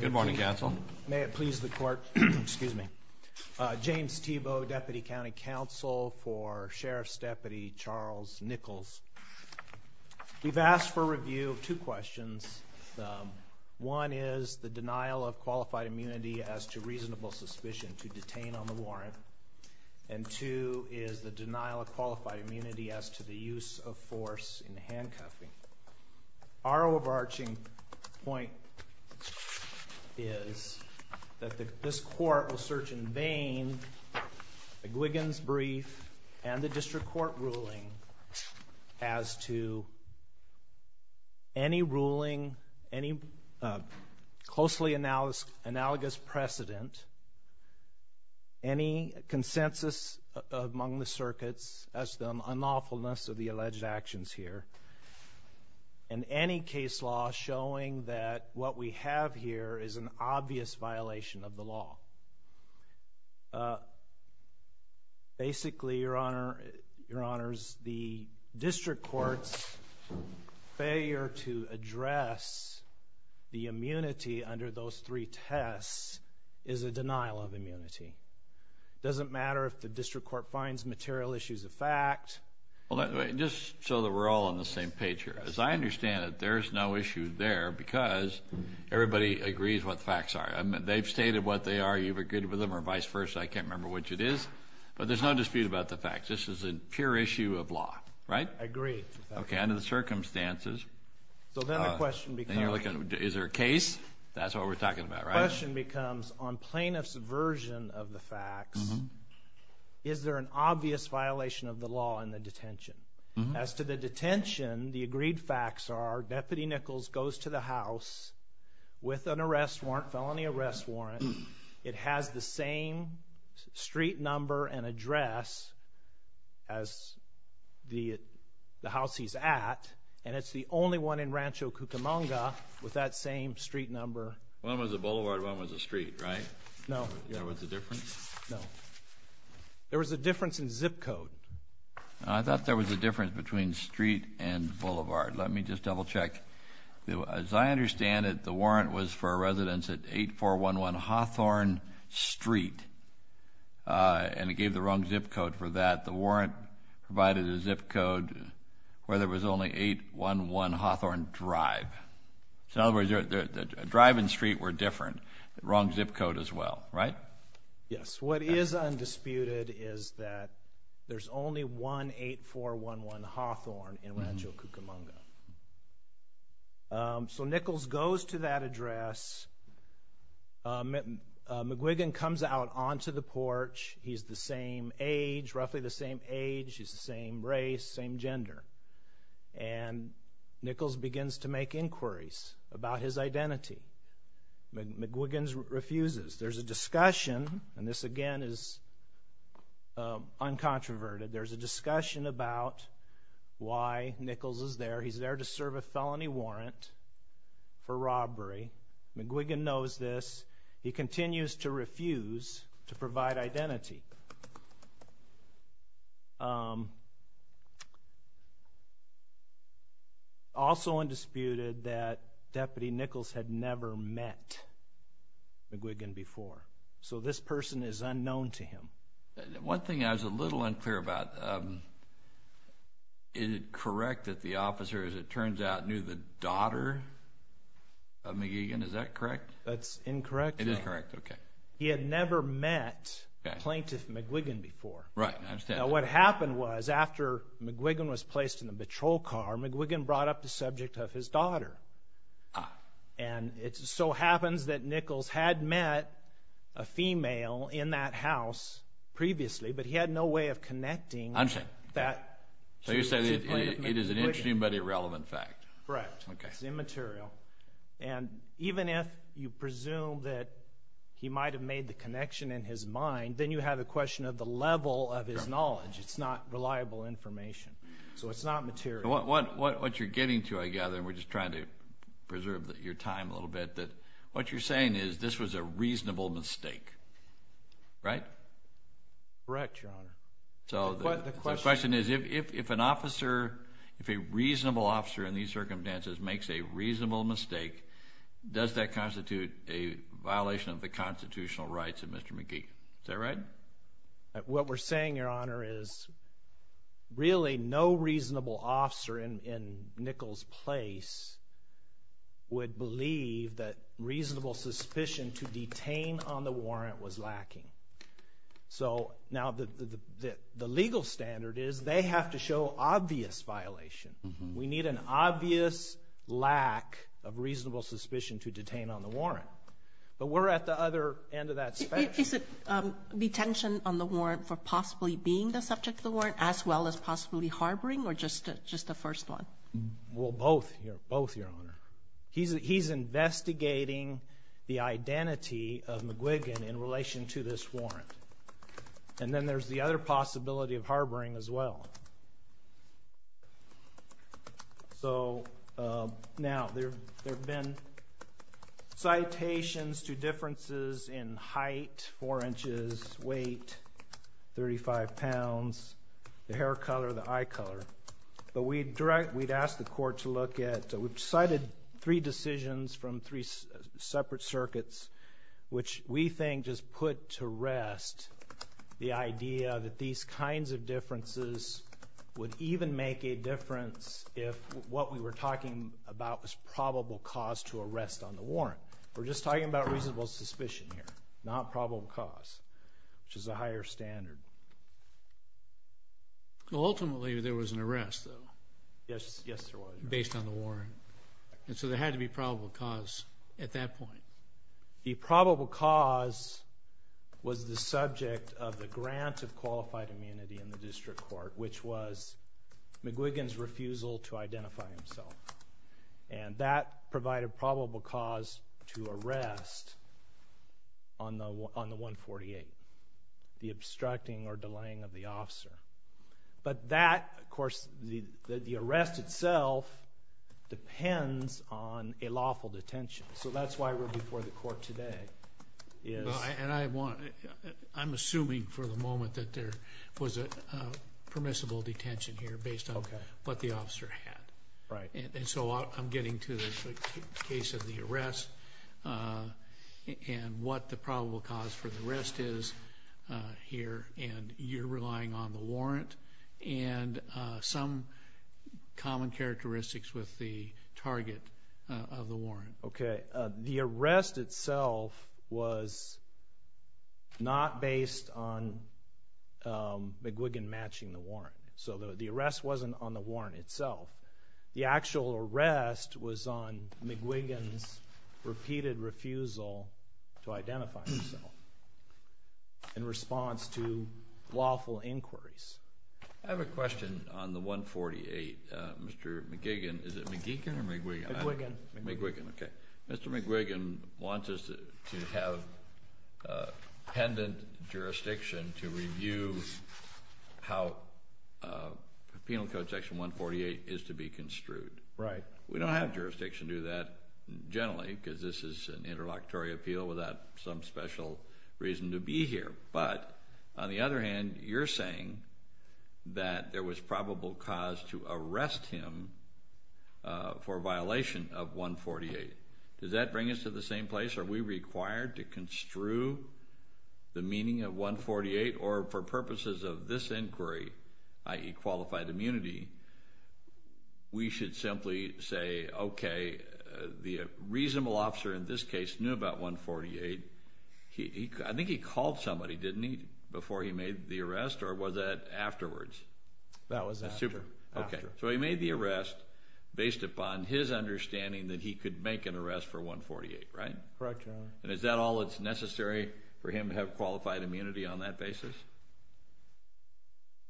Good morning, counsel. May it please the court, excuse me, James Thiebaud, Deputy County Counsel for Sheriff's Deputy Charles Nichols. We've asked for review of two questions. One is the denial of qualified immunity as to reasonable suspicion to detain on the warrant, and two is the denial of qualified immunity as to the use of force in handcuffing. Our overarching point is that this court will search in vain McGuigan's brief and the district court ruling as to any ruling, any closely analogous precedent, any consensus among the circuits as to the unlawfulness of the alleged actions here, and any case law showing that what we have here is an obvious violation of the law. Basically, Your Honor, Your Honors, the district court's failure to address the immunity under those three tests is a denial of immunity. It doesn't matter if the district court finds material issues a fact. Well, just so that we're all on the same page here, as I understand it, there's no issue there because everybody agrees what the facts are. They've stated what they are, you've agreed with them, or vice versa, I can't remember which it is, but there's no dispute about the facts. This is a pure issue of law, right? I agree. Okay, under the circumstances. So then the question becomes... Is there a case? That's what we're talking about, right? The question becomes, on plaintiff's version of the facts, is there an obvious violation of the law in the detention? As to the detention, the agreed facts are Deputy Nichols goes to the house with an arrest warrant, felony arrest warrant. It has the same street number and address as the house he's at, and it's the only one in Rancho Cucamonga with that same street number. One was a boulevard, one was a street, right? No. There was a difference? No. There was a difference in zip code. I thought there was a difference between street and boulevard. Let me just double check. As I understand it, the warrant was for a residence at 8411 Hawthorne Street, and it gave the wrong zip code for that. The warrant provided a zip code where there was only 811 Hawthorne Drive. In other words, the drive and street were different, wrong zip code as well, right? Yes. What is undisputed is that there's only one 8411 Hawthorne in Rancho Cucamonga. So Nichols goes to that address. McGuigan comes out onto the porch. He's the same age, roughly the same age. He's the same race, same gender. And Nichols begins to make inquiries about his identity. McGuigan refuses. There's a discussion, and this again is uncontroverted, there's a discussion about why Nichols is there. He's there to serve a felony warrant for robbery. McGuigan knows this. He continues to refuse to provide identity. Also undisputed that Deputy Nichols had never met McGuigan before. So this person is unknown to him. One thing I was a little unclear about, is it correct that the officer, as it turns out, knew the daughter of McGuigan? Is that correct? That's incorrect. It is correct, okay. He had never met Plaintiff McGuigan before. Right, I understand. Now what happened was, after McGuigan was placed in the patrol car, McGuigan brought up the subject of his daughter. And it so happens that Nichols had met a female in that house previously, but he had no way of connecting that to Plaintiff McGuigan. So you're saying it is an interesting but irrelevant fact. Correct. It's immaterial. And even if you presume that he might have made the connection in his mind, then you have a question of the level of his knowledge. It's not reliable information. So it's not material. What you're getting to, I gather, and we're just trying to preserve your time a little bit, what you're saying is this was a reasonable mistake, right? Correct, Your Honor. The question is, if an officer, if a reasonable officer in these circumstances makes a reasonable mistake, does that constitute a violation of the constitutional rights of Mr. McGuigan? Is that right? What we're saying, Your Honor, is really no reasonable officer in Nichols' place would believe that reasonable suspicion to detain on the warrant was lacking. So now the legal standard is they have to show obvious violation. We need an obvious lack of reasonable suspicion to detain on the warrant. But we're at the other end of that spectrum. Is it detention on the warrant for possibly being the subject of the warrant as well as possibly harboring or just the first one? Well, both, Your Honor. He's investigating the identity of McGuigan in relation to this warrant. And then there's the other possibility of harboring as well. So now there have been citations to differences in height, 4 inches, weight, 35 pounds, the hair color, the eye color. But we'd ask the court to look at, we've cited three decisions from three separate circuits, which we think just put to rest the idea that these kinds of differences would even make a difference if what we were talking about was probable cause to arrest on the warrant. We're just talking about reasonable suspicion here, not probable cause, which is a higher standard. Ultimately, there was an arrest, though. Yes, there was. Based on the warrant. And so there had to be probable cause at that point. The probable cause was the subject of the grant of qualified immunity in the district court, which was McGuigan's refusal to identify himself. And that provided probable cause to arrest on the 148. The obstructing or delaying of the officer. But that, of course, the arrest itself depends on a lawful detention. So that's why we're before the court today. I'm assuming for the moment that there was a permissible detention here based on what the officer had. Right. And so I'm getting to the case of the arrest and what the probable cause for the arrest is here. And you're relying on the warrant and some common characteristics with the target of the warrant. Okay. The arrest itself was not based on McGuigan matching the warrant. So the arrest wasn't on the warrant itself. The actual arrest was on McGuigan's repeated refusal to identify himself in response to lawful inquiries. I have a question on the 148, Mr. McGuigan. Is it McGuigan or McGuigan? McGuigan. McGuigan, okay. Mr. McGuigan wants us to have pendant jurisdiction to review how Penal Code Section 148 is to be construed. Right. We don't have jurisdiction to do that generally because this is an interlocutory appeal without some special reason to be here. But on the other hand, you're saying that there was probable cause to arrest him for violation of 148. Does that bring us to the same place? Are we required to construe the meaning of 148? Or for purposes of this inquiry, i.e., qualified immunity, we should simply say, okay, the reasonable officer in this case knew about 148. I think he called somebody, didn't he, before he made the arrest? Or was that afterwards? That was after. Okay. So he made the arrest based upon his understanding that he could make an arrest for 148, right? Correct, Your Honor. And is that all that's necessary for him to have qualified immunity on that basis?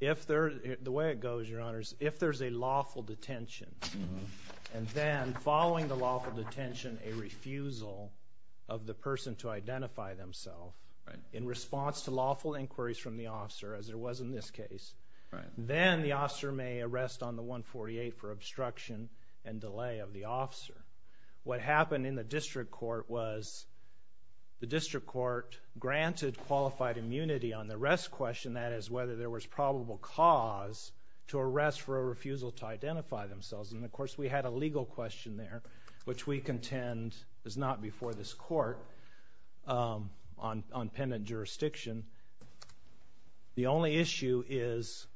The way it goes, Your Honor, is if there's a lawful detention and then following the lawful detention, a refusal of the person to identify themselves in response to lawful inquiries from the officer, as there was in this case, then the officer may arrest on the 148 for obstruction and delay of the officer. What happened in the district court was the district court granted qualified immunity on the arrest question, i.e., whether there was probable cause to arrest for a refusal to identify themselves. And, of course, we had a legal question there, which we contend is not before this court on penitent jurisdiction. The only issue is,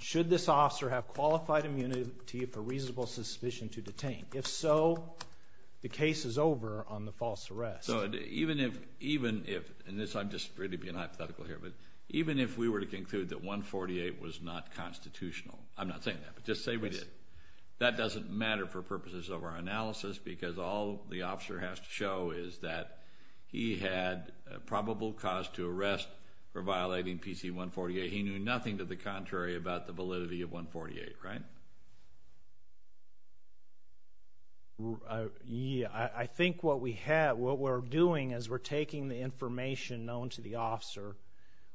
should this officer have qualified immunity for reasonable suspicion to detain? If so, the case is over on the false arrest. So even if, and I'm just really being hypothetical here, but even if we were to conclude that 148 was not constitutional, I'm not saying that, but just say we did, that doesn't matter for purposes of our analysis because all the officer has to show is that he had probable cause to arrest for violating PC 148. He knew nothing to the contrary about the validity of 148, right? I think what we're doing is we're taking the information known to the officer,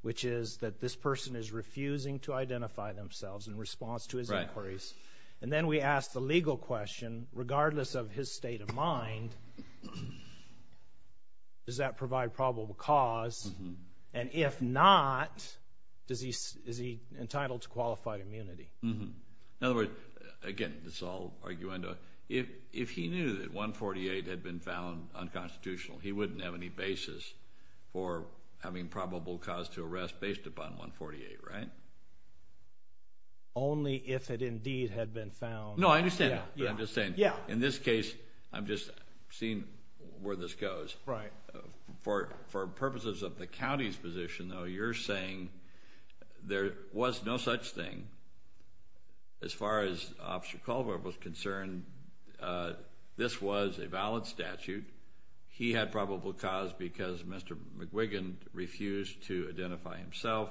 which is that this person is refusing to identify themselves in response to his inquiries. And then we ask the legal question, regardless of his state of mind, does that provide probable cause? And if not, is he entitled to qualified immunity? In other words, again, this is all arguendo. If he knew that 148 had been found unconstitutional, he wouldn't have any basis for having probable cause to arrest based upon 148, right? Only if it indeed had been found. No, I understand that, but I'm just saying in this case, I'm just seeing where this goes. Right. For purposes of the county's position, though, you're saying there was no such thing as far as Officer Culver was concerned. This was a valid statute. He had probable cause because Mr. McGuigan refused to identify himself.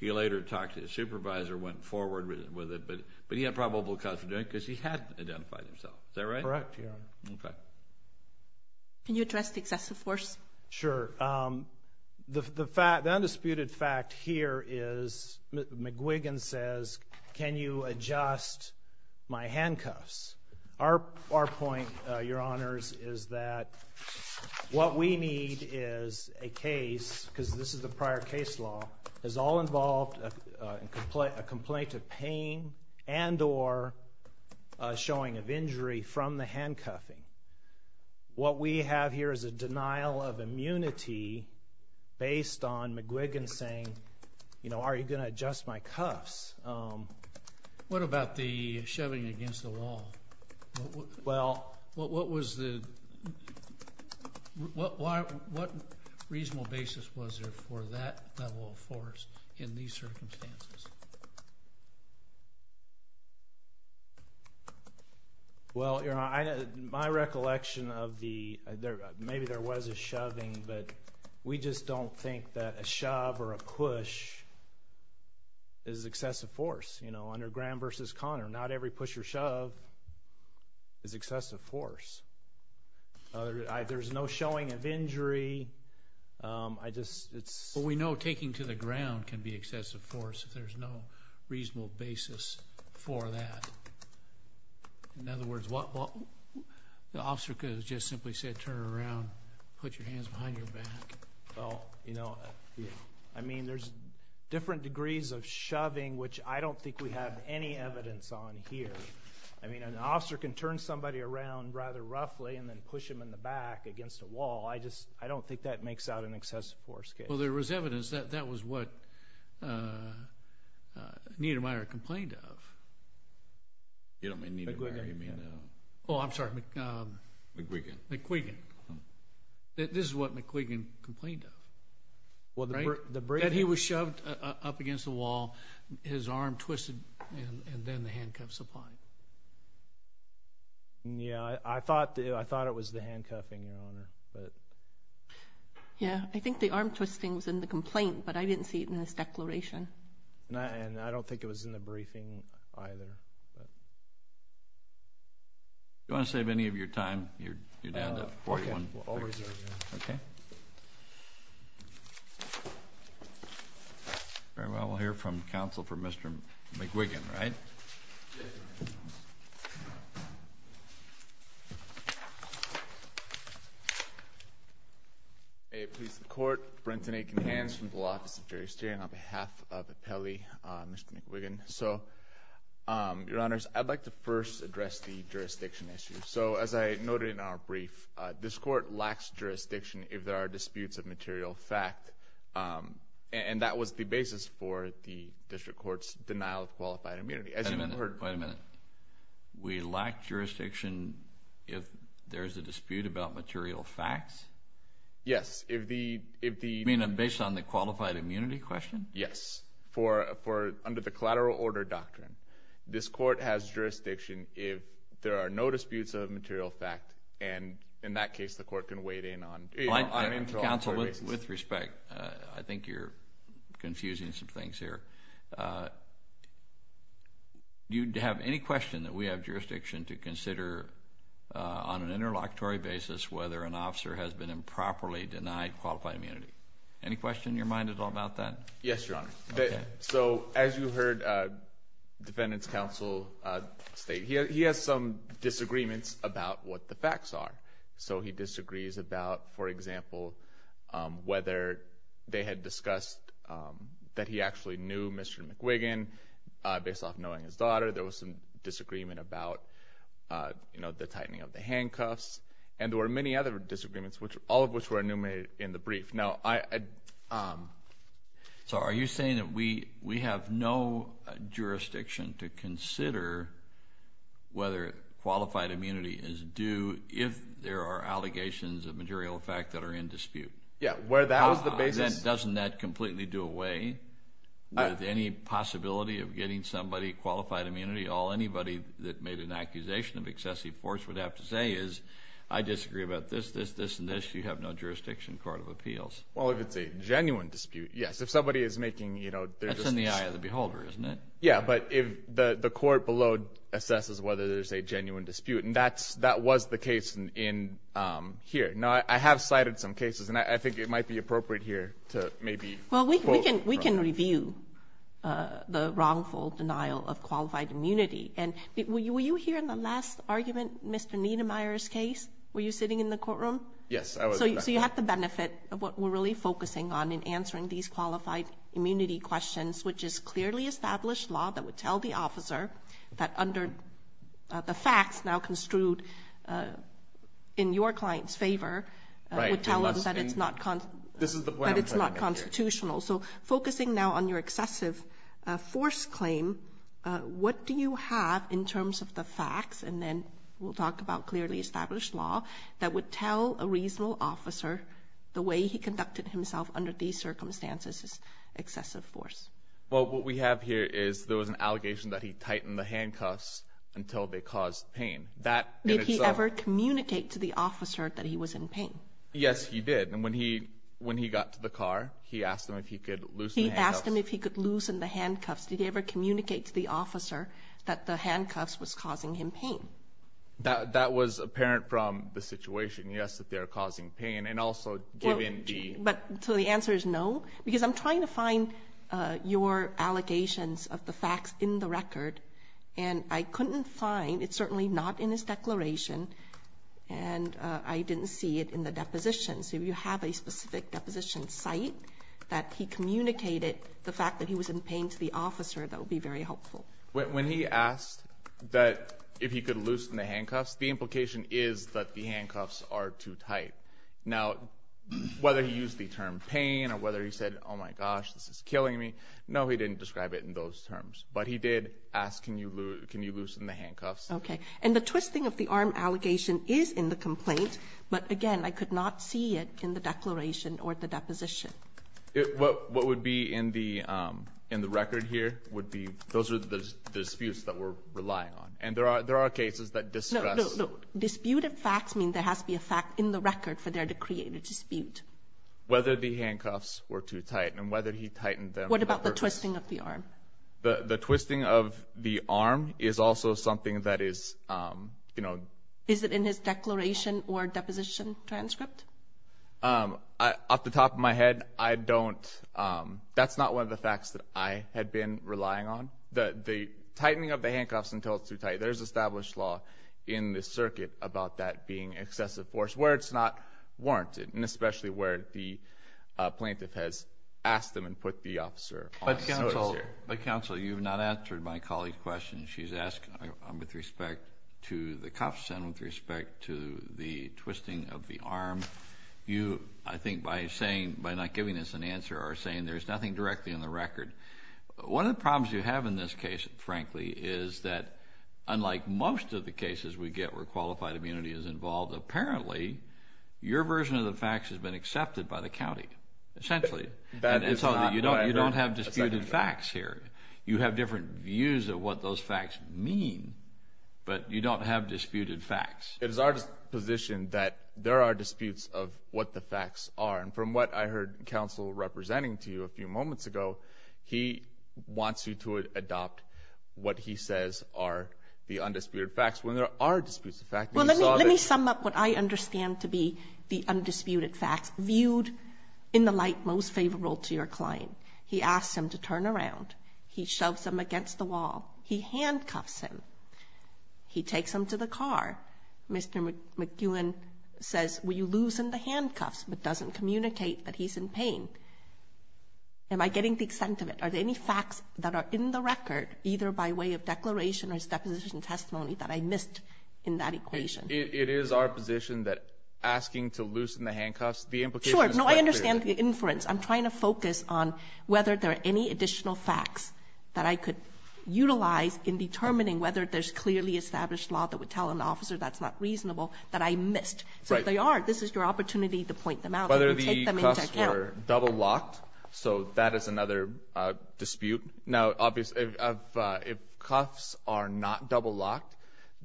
He later talked to his supervisor, went forward with it, but he had probable cause for doing it because he hadn't identified himself. Is that right? Correct, Your Honor. Okay. Can you address the excessive force? Sure. The undisputed fact here is McGuigan says, can you adjust my handcuffs? Our point, Your Honors, is that what we need is a case, because this is a prior case law, is all involved in a complaint of pain and or showing of injury from the handcuffing. What we have here is a denial of immunity based on McGuigan saying, you know, are you going to adjust my cuffs? What about the shoving against the wall? Well. What was the – what reasonable basis was there for that level of force in these circumstances? Well, Your Honor, my recollection of the – maybe there was a shoving, but we just don't think that a shove or a push is excessive force. You know, under Graham v. Conner, not every push or shove is excessive force. There's no showing of injury. I just – it's. We know taking to the ground can be excessive force if there's no reasonable basis for that. In other words, what – the officer could have just simply said, turn around, put your hands behind your back. Well, you know, I mean, there's different degrees of shoving, which I don't think we have any evidence on here. I mean, an officer can turn somebody around rather roughly and then push them in the back against a wall. I just – I don't think that makes out an excessive force case. Well, there was evidence that that was what Niedermeyer complained of. You don't mean Niedermeyer. McGuigan. Oh, I'm sorry. McGuigan. McGuigan. This is what McGuigan complained of, right? That he was shoved up against the wall, his arm twisted, and then the handcuffs applied. Yeah, I thought it was the handcuffing, Your Honor. Yeah, I think the arm twisting was in the complaint, but I didn't see it in this declaration. And I don't think it was in the briefing either. Do you want to save any of your time? You're down to 41 minutes. Okay, I'll reserve it. Okay. Very well, we'll hear from counsel for Mr. McGuigan, right? Yes. May it please the Court. Brenton Akinhans from the Law Office of Jury Steering on behalf of the Pele, Mr. McGuigan. So, Your Honors, I'd like to first address the jurisdiction issue. So, as I noted in our brief, this Court lacks jurisdiction if there are disputes of material fact, and that was the basis for the District Court's denial of qualified immunity. As you've heard— Wait a minute. We lack jurisdiction if there is a dispute about material facts? Yes, if the— You mean based on the qualified immunity question? Yes, under the collateral order doctrine. This Court has jurisdiction if there are no disputes of material fact, and in that case, the Court can wade in on— Counsel, with respect, I think you're confusing some things here. Do you have any question that we have jurisdiction to consider on an interlocutory basis whether an officer has been improperly denied qualified immunity? Any question in your mind at all about that? Yes, Your Honor. Okay. So, as you heard Defendant's counsel state, he has some disagreements about what the facts are. So, he disagrees about, for example, whether they had discussed that he actually knew Mr. McGuigan based off knowing his daughter. There was some disagreement about, you know, the tightening of the handcuffs, and there were many other disagreements, all of which were enumerated in the brief. Now, I— So, are you saying that we have no jurisdiction to consider whether qualified immunity is due if there are allegations of material fact that are in dispute? Yeah, where that was the basis— Doesn't that completely do away with any possibility of getting somebody qualified immunity? All anybody that made an accusation of excessive force would have to say is, I disagree about this, this, this, and this. You have no jurisdiction in the Court of Appeals. Well, if it's a genuine dispute, yes. If somebody is making, you know— That's in the eye of the beholder, isn't it? Yeah, but if the Court below assesses whether there's a genuine dispute, and that was the case here. Now, I have cited some cases, and I think it might be appropriate here to maybe— Well, we can review the wrongful denial of qualified immunity. And were you here in the last argument, Mr. Niedermeyer's case? Were you sitting in the courtroom? Yes, I was. So you have the benefit of what we're really focusing on in answering these qualified immunity questions, which is clearly established law that would tell the officer that under the facts now construed in your client's favor— Right. —would tell them that it's not constitutional. So focusing now on your excessive force claim, what do you have in terms of the facts, and then we'll talk about clearly established law, that would tell a reasonable officer the way he conducted himself under these circumstances is excessive force? Well, what we have here is there was an allegation that he tightened the handcuffs until they caused pain. Did he ever communicate to the officer that he was in pain? Yes, he did. And when he got to the car, he asked him if he could loosen the handcuffs. He asked him if he could loosen the handcuffs. Did he ever communicate to the officer that the handcuffs was causing him pain? That was apparent from the situation, yes, that they're causing pain, and also given the— But so the answer is no, because I'm trying to find your allegations of the facts in the record, and I couldn't find—it's certainly not in his declaration, and I didn't see it in the deposition. So you have a specific deposition site that he communicated the fact that he was in pain to the officer. That would be very helpful. When he asked that if he could loosen the handcuffs, the implication is that the handcuffs are too tight. Now, whether he used the term pain or whether he said, oh, my gosh, this is killing me, no, he didn't describe it in those terms. But he did ask, can you loosen the handcuffs? Okay. And the twisting of the arm allegation is in the complaint, but, again, I could not see it in the declaration or the deposition. What would be in the record here would be—those are the disputes that we're relying on. And there are cases that discuss— No, no, no. Disputed facts mean there has to be a fact in the record for there to create a dispute. Whether the handcuffs were too tight and whether he tightened them— What about the twisting of the arm? The twisting of the arm is also something that is, you know— Is it in his declaration or deposition transcript? Off the top of my head, I don't—that's not one of the facts that I had been relying on. The tightening of the handcuffs until it's too tight, there's established law in the circuit about that being excessive force, where it's not warranted, and especially where the plaintiff has asked them and put the officer on notice here. But, counsel, you've not answered my colleague's question. She's asked with respect to the cuffs and with respect to the twisting of the arm. You, I think, by saying—by not giving us an answer, are saying there's nothing directly in the record. One of the problems you have in this case, frankly, is that, unlike most of the cases we get where qualified immunity is involved, apparently your version of the facts has been accepted by the county, essentially. That is not— You don't have disputed facts here. You have different views of what those facts mean, but you don't have disputed facts. It is our position that there are disputes of what the facts are. And from what I heard counsel representing to you a few moments ago, he wants you to adopt what he says are the undisputed facts, when there are disputes of facts. Well, let me sum up what I understand to be the undisputed facts, viewed in the light most favorable to your client. He asks him to turn around. He shoves him against the wall. He handcuffs him. He takes him to the car. Mr. McGowan says, will you loosen the handcuffs, but doesn't communicate that he's in pain. Am I getting the extent of it? Are there any facts that are in the record, either by way of declaration or as deposition testimony, that I missed in that equation? It is our position that asking to loosen the handcuffs, the implication is quite clear. Sure. No, I understand the inference. I'm trying to focus on whether there are any additional facts that I could utilize in determining whether there's clearly established law that would tell an officer that's not reasonable that I missed. Right. So if they are, this is your opportunity to point them out and take them into account. Whether the cuffs were double locked, so that is another dispute. Now, obviously, if cuffs are not double locked,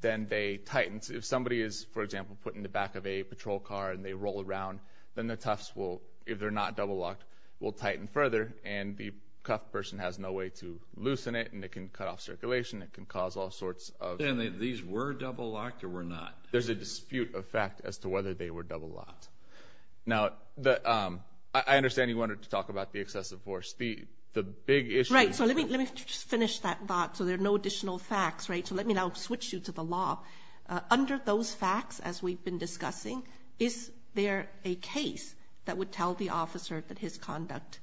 then they tighten. If somebody is, for example, put in the back of a patrol car and they roll around, then the tufts will, if they're not double locked, will tighten further, and the cuffed person has no way to loosen it, and it can cut off circulation. It can cause all sorts of... And these were double locked or were not? There's a dispute of fact as to whether they were double locked. Now, I understand you wanted to talk about the excessive force. The big issue... Right. So let me just finish that thought, so there are no additional facts, right? So let me now switch you to the law. Under those facts, as we've been discussing, is there a case that would tell the officer that his conduct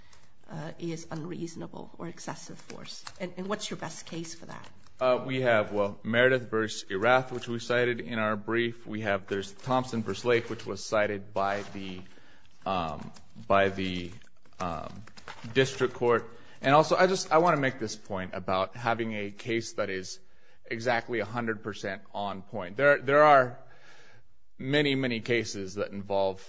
is unreasonable or excessive force? And what's your best case for that? We have Meredith v. Erath, which we cited in our brief. We have Thompson v. Lake, which was cited by the district court. And also, I want to make this point about having a case that is exactly 100% on point. There are many, many cases that involve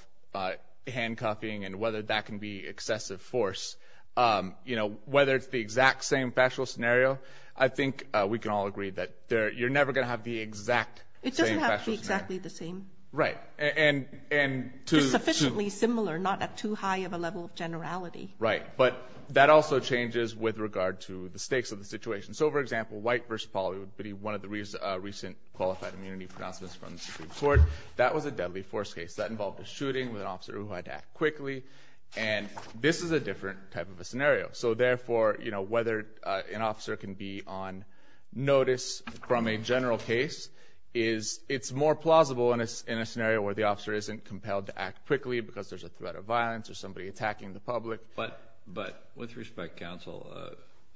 handcuffing and whether that can be excessive force. Whether it's the exact same factual scenario, I think we can all agree that you're never going to have the exact same factual scenario. It doesn't have to be exactly the same. Right. Just sufficiently similar, not at too high of a level of generality. Right. But that also changes with regard to the stakes of the situation. So, for example, White v. Polley would be one of the recent qualified immunity pronouncements from the district court. That was a deadly force case. That involved a shooting with an officer who had to act quickly. And this is a different type of a scenario. So, therefore, whether an officer can be on notice from a general case, it's more plausible in a scenario where the officer isn't compelled to act quickly because there's a threat of violence or somebody attacking the public. But with respect, counsel,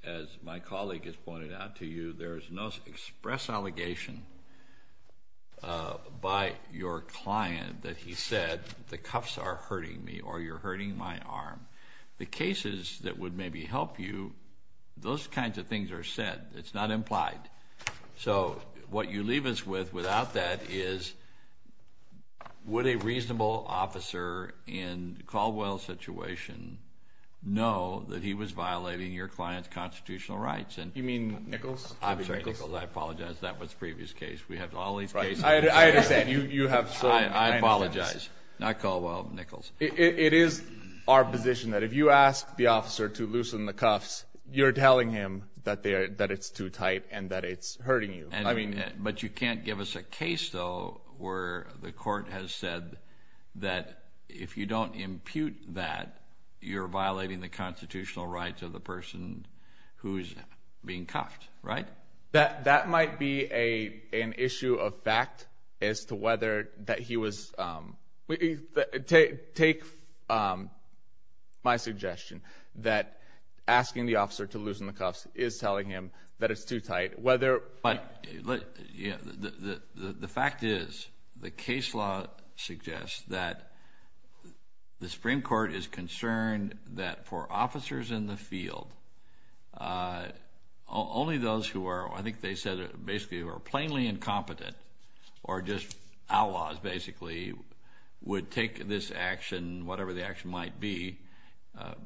as my colleague has pointed out to you, there's no express allegation by your client that he said the cuffs are hurting me or you're hurting my arm. The cases that would maybe help you, those kinds of things are said. It's not implied. So, what you leave us with without that is would a reasonable officer in Caldwell's situation know that he was violating your client's constitutional rights? You mean Nichols? I'm sorry, Nichols. I apologize. That was a previous case. We have all these cases. I understand. You have so many. I apologize. Not Caldwell. Nichols. It is our position that if you ask the officer to loosen the cuffs, you're telling him that it's too tight and that it's hurting you. But you can't give us a case, though, where the court has said that if you don't impute that, you're violating the constitutional rights of the person who is being cuffed, right? That might be an issue of fact as to whether that he was – take my suggestion that asking the officer to loosen the cuffs is telling him that it's too tight. But the fact is the case law suggests that the Supreme Court is concerned that for officers in the field, only those who are – I think they said basically who are plainly incompetent or just outlaws basically would take this action, whatever the action might be,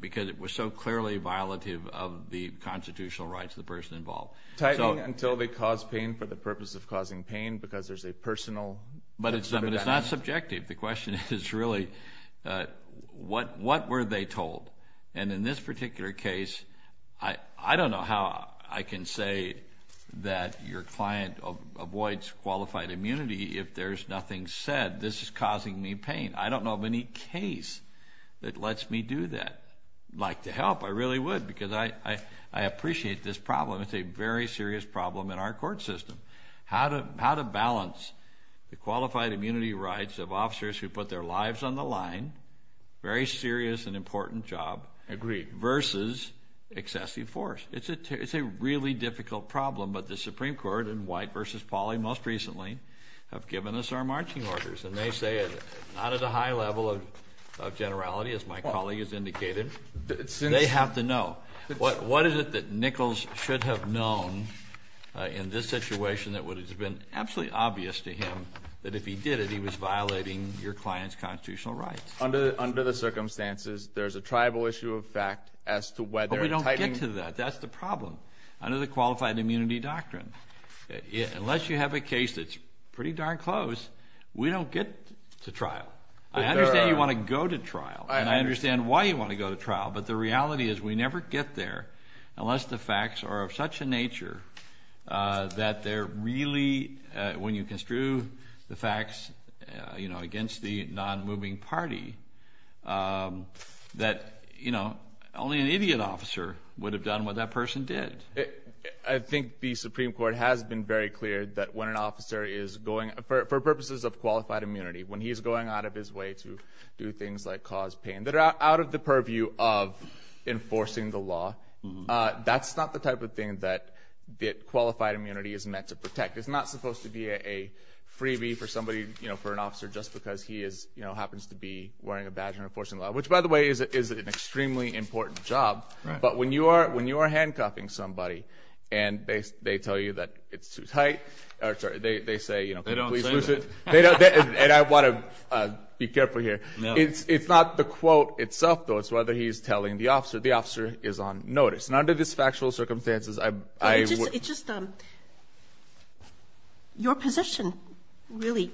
because it was so clearly violative of the constitutional rights of the person involved. Tightening until they cause pain for the purpose of causing pain because there's a personal – But it's not subjective. The question is really what were they told? And in this particular case, I don't know how I can say that your client avoids qualified immunity if there's nothing said. This is causing me pain. I don't know of any case that lets me do that. I'd like to help. I really would because I appreciate this problem. It's a very serious problem in our court system. How to balance the qualified immunity rights of officers who put their lives on the line – very serious and important job – Agreed. Versus excessive force. It's a really difficult problem. But the Supreme Court in White v. Pauley most recently have given us our marching orders. And they say not at a high level of generality, as my colleague has indicated. They have to know. What is it that Nichols should have known in this situation that would have been absolutely obvious to him that if he did it, he was violating your client's constitutional rights? Under the circumstances, there's a tribal issue of fact as to whether – But we don't get to that. That's the problem. Under the qualified immunity doctrine, unless you have a case that's pretty darn close, we don't get to trial. I understand you want to go to trial. And I understand why you want to go to trial. But the reality is we never get there unless the facts are of such a nature that they're really – against the non-moving party that only an idiot officer would have done what that person did. I think the Supreme Court has been very clear that when an officer is going – for purposes of qualified immunity, when he's going out of his way to do things like cause pain that are out of the purview of enforcing the law, that's not the type of thing that qualified immunity is meant to protect. It's not supposed to be a freebie for somebody – for an officer just because he happens to be wearing a badge and enforcing the law, which, by the way, is an extremely important job. But when you are handcuffing somebody and they tell you that it's too tight – or sorry, they say, please loosen – They don't say that. And I want to be careful here. It's not the quote itself, though. It's whether he's telling the officer. The officer is on notice. And under these factual circumstances, I would – It's just – your position really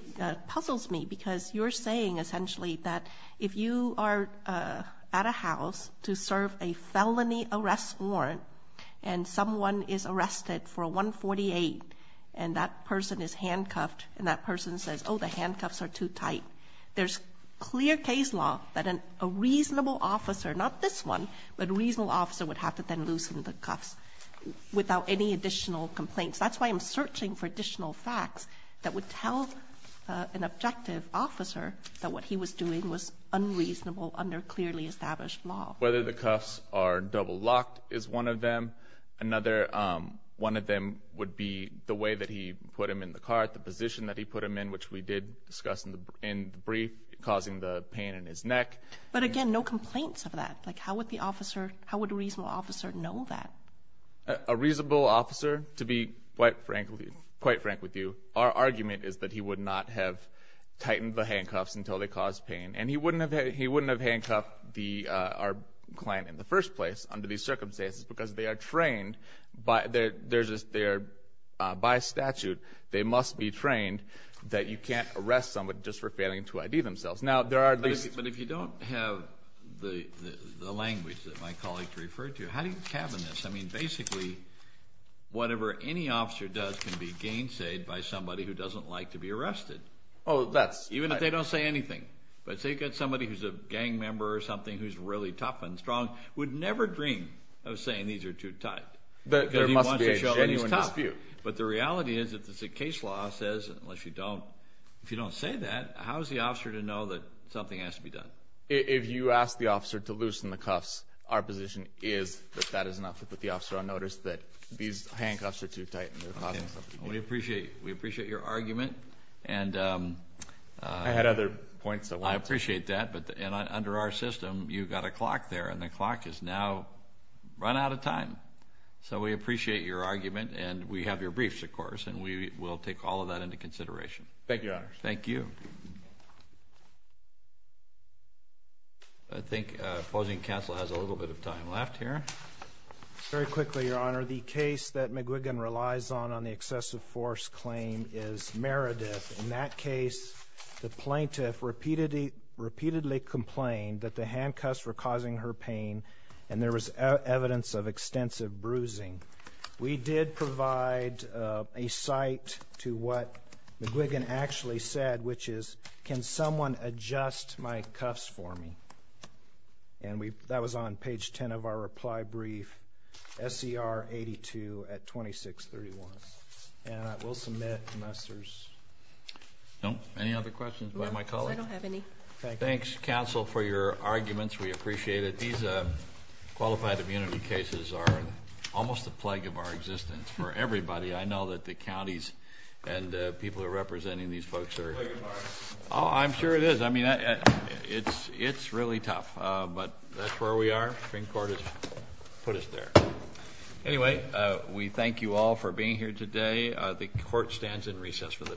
puzzles me because you're saying essentially that if you are at a house to serve a felony arrest warrant and someone is arrested for 148 and that person is handcuffed and that person says, oh, the handcuffs are too tight, there's clear case law that a reasonable officer – not this one – but a reasonable officer would have to then loosen the cuffs without any additional complaints. That's why I'm searching for additional facts that would tell an objective officer that what he was doing was unreasonable under clearly established law. Whether the cuffs are double-locked is one of them. Another one of them would be the way that he put him in the car, the position that he put him in, which we did discuss in the brief, causing the pain in his neck. But again, no complaints of that. Like how would the officer – how would a reasonable officer know that? A reasonable officer, to be quite frank with you, our argument is that he would not have tightened the handcuffs until they caused pain. And he wouldn't have handcuffed our client in the first place under these circumstances because they are trained by statute. They must be trained that you can't arrest someone just for failing to ID themselves. But if you don't have the language that my colleague referred to, how do you cabin this? I mean basically whatever any officer does can be gainsayed by somebody who doesn't like to be arrested. Oh, that's – Even if they don't say anything. But say you've got somebody who's a gang member or something who's really tough and strong, would never dream of saying these are too tight. There must be a genuine dispute. But the reality is that the case law says, unless you don't – if you don't say that, how is the officer to know that something has to be done? If you ask the officer to loosen the cuffs, our position is that that is enough to put the officer on notice that these handcuffs are too tight and they're causing something to be done. We appreciate your argument. I had other points. I appreciate that. But under our system, you've got a clock there, and the clock has now run out of time. So we appreciate your argument, and we have your briefs, of course, and we will take all of that into consideration. Thank you, Your Honor. Thank you. I think opposing counsel has a little bit of time left here. Very quickly, Your Honor, the case that McGuigan relies on on the excessive force claim is Meredith. In that case, the plaintiff repeatedly complained that the handcuffs were causing her pain, and there was evidence of extensive bruising. We did provide a cite to what McGuigan actually said, which is, can someone adjust my cuffs for me? And that was on page 10 of our reply brief, SCR 82 at 2631. And I will submit, unless there's any other questions by my colleague. I don't have any. Thanks, counsel, for your arguments. We appreciate it. These qualified immunity cases are almost a plague of our existence for everybody. I know that the counties and the people who are representing these folks are. It's a plague of ours. I'm sure it is. It's really tough, but that's where we are. Supreme Court has put us there. Anyway, we thank you all for being here today. The court stands in recess for the day.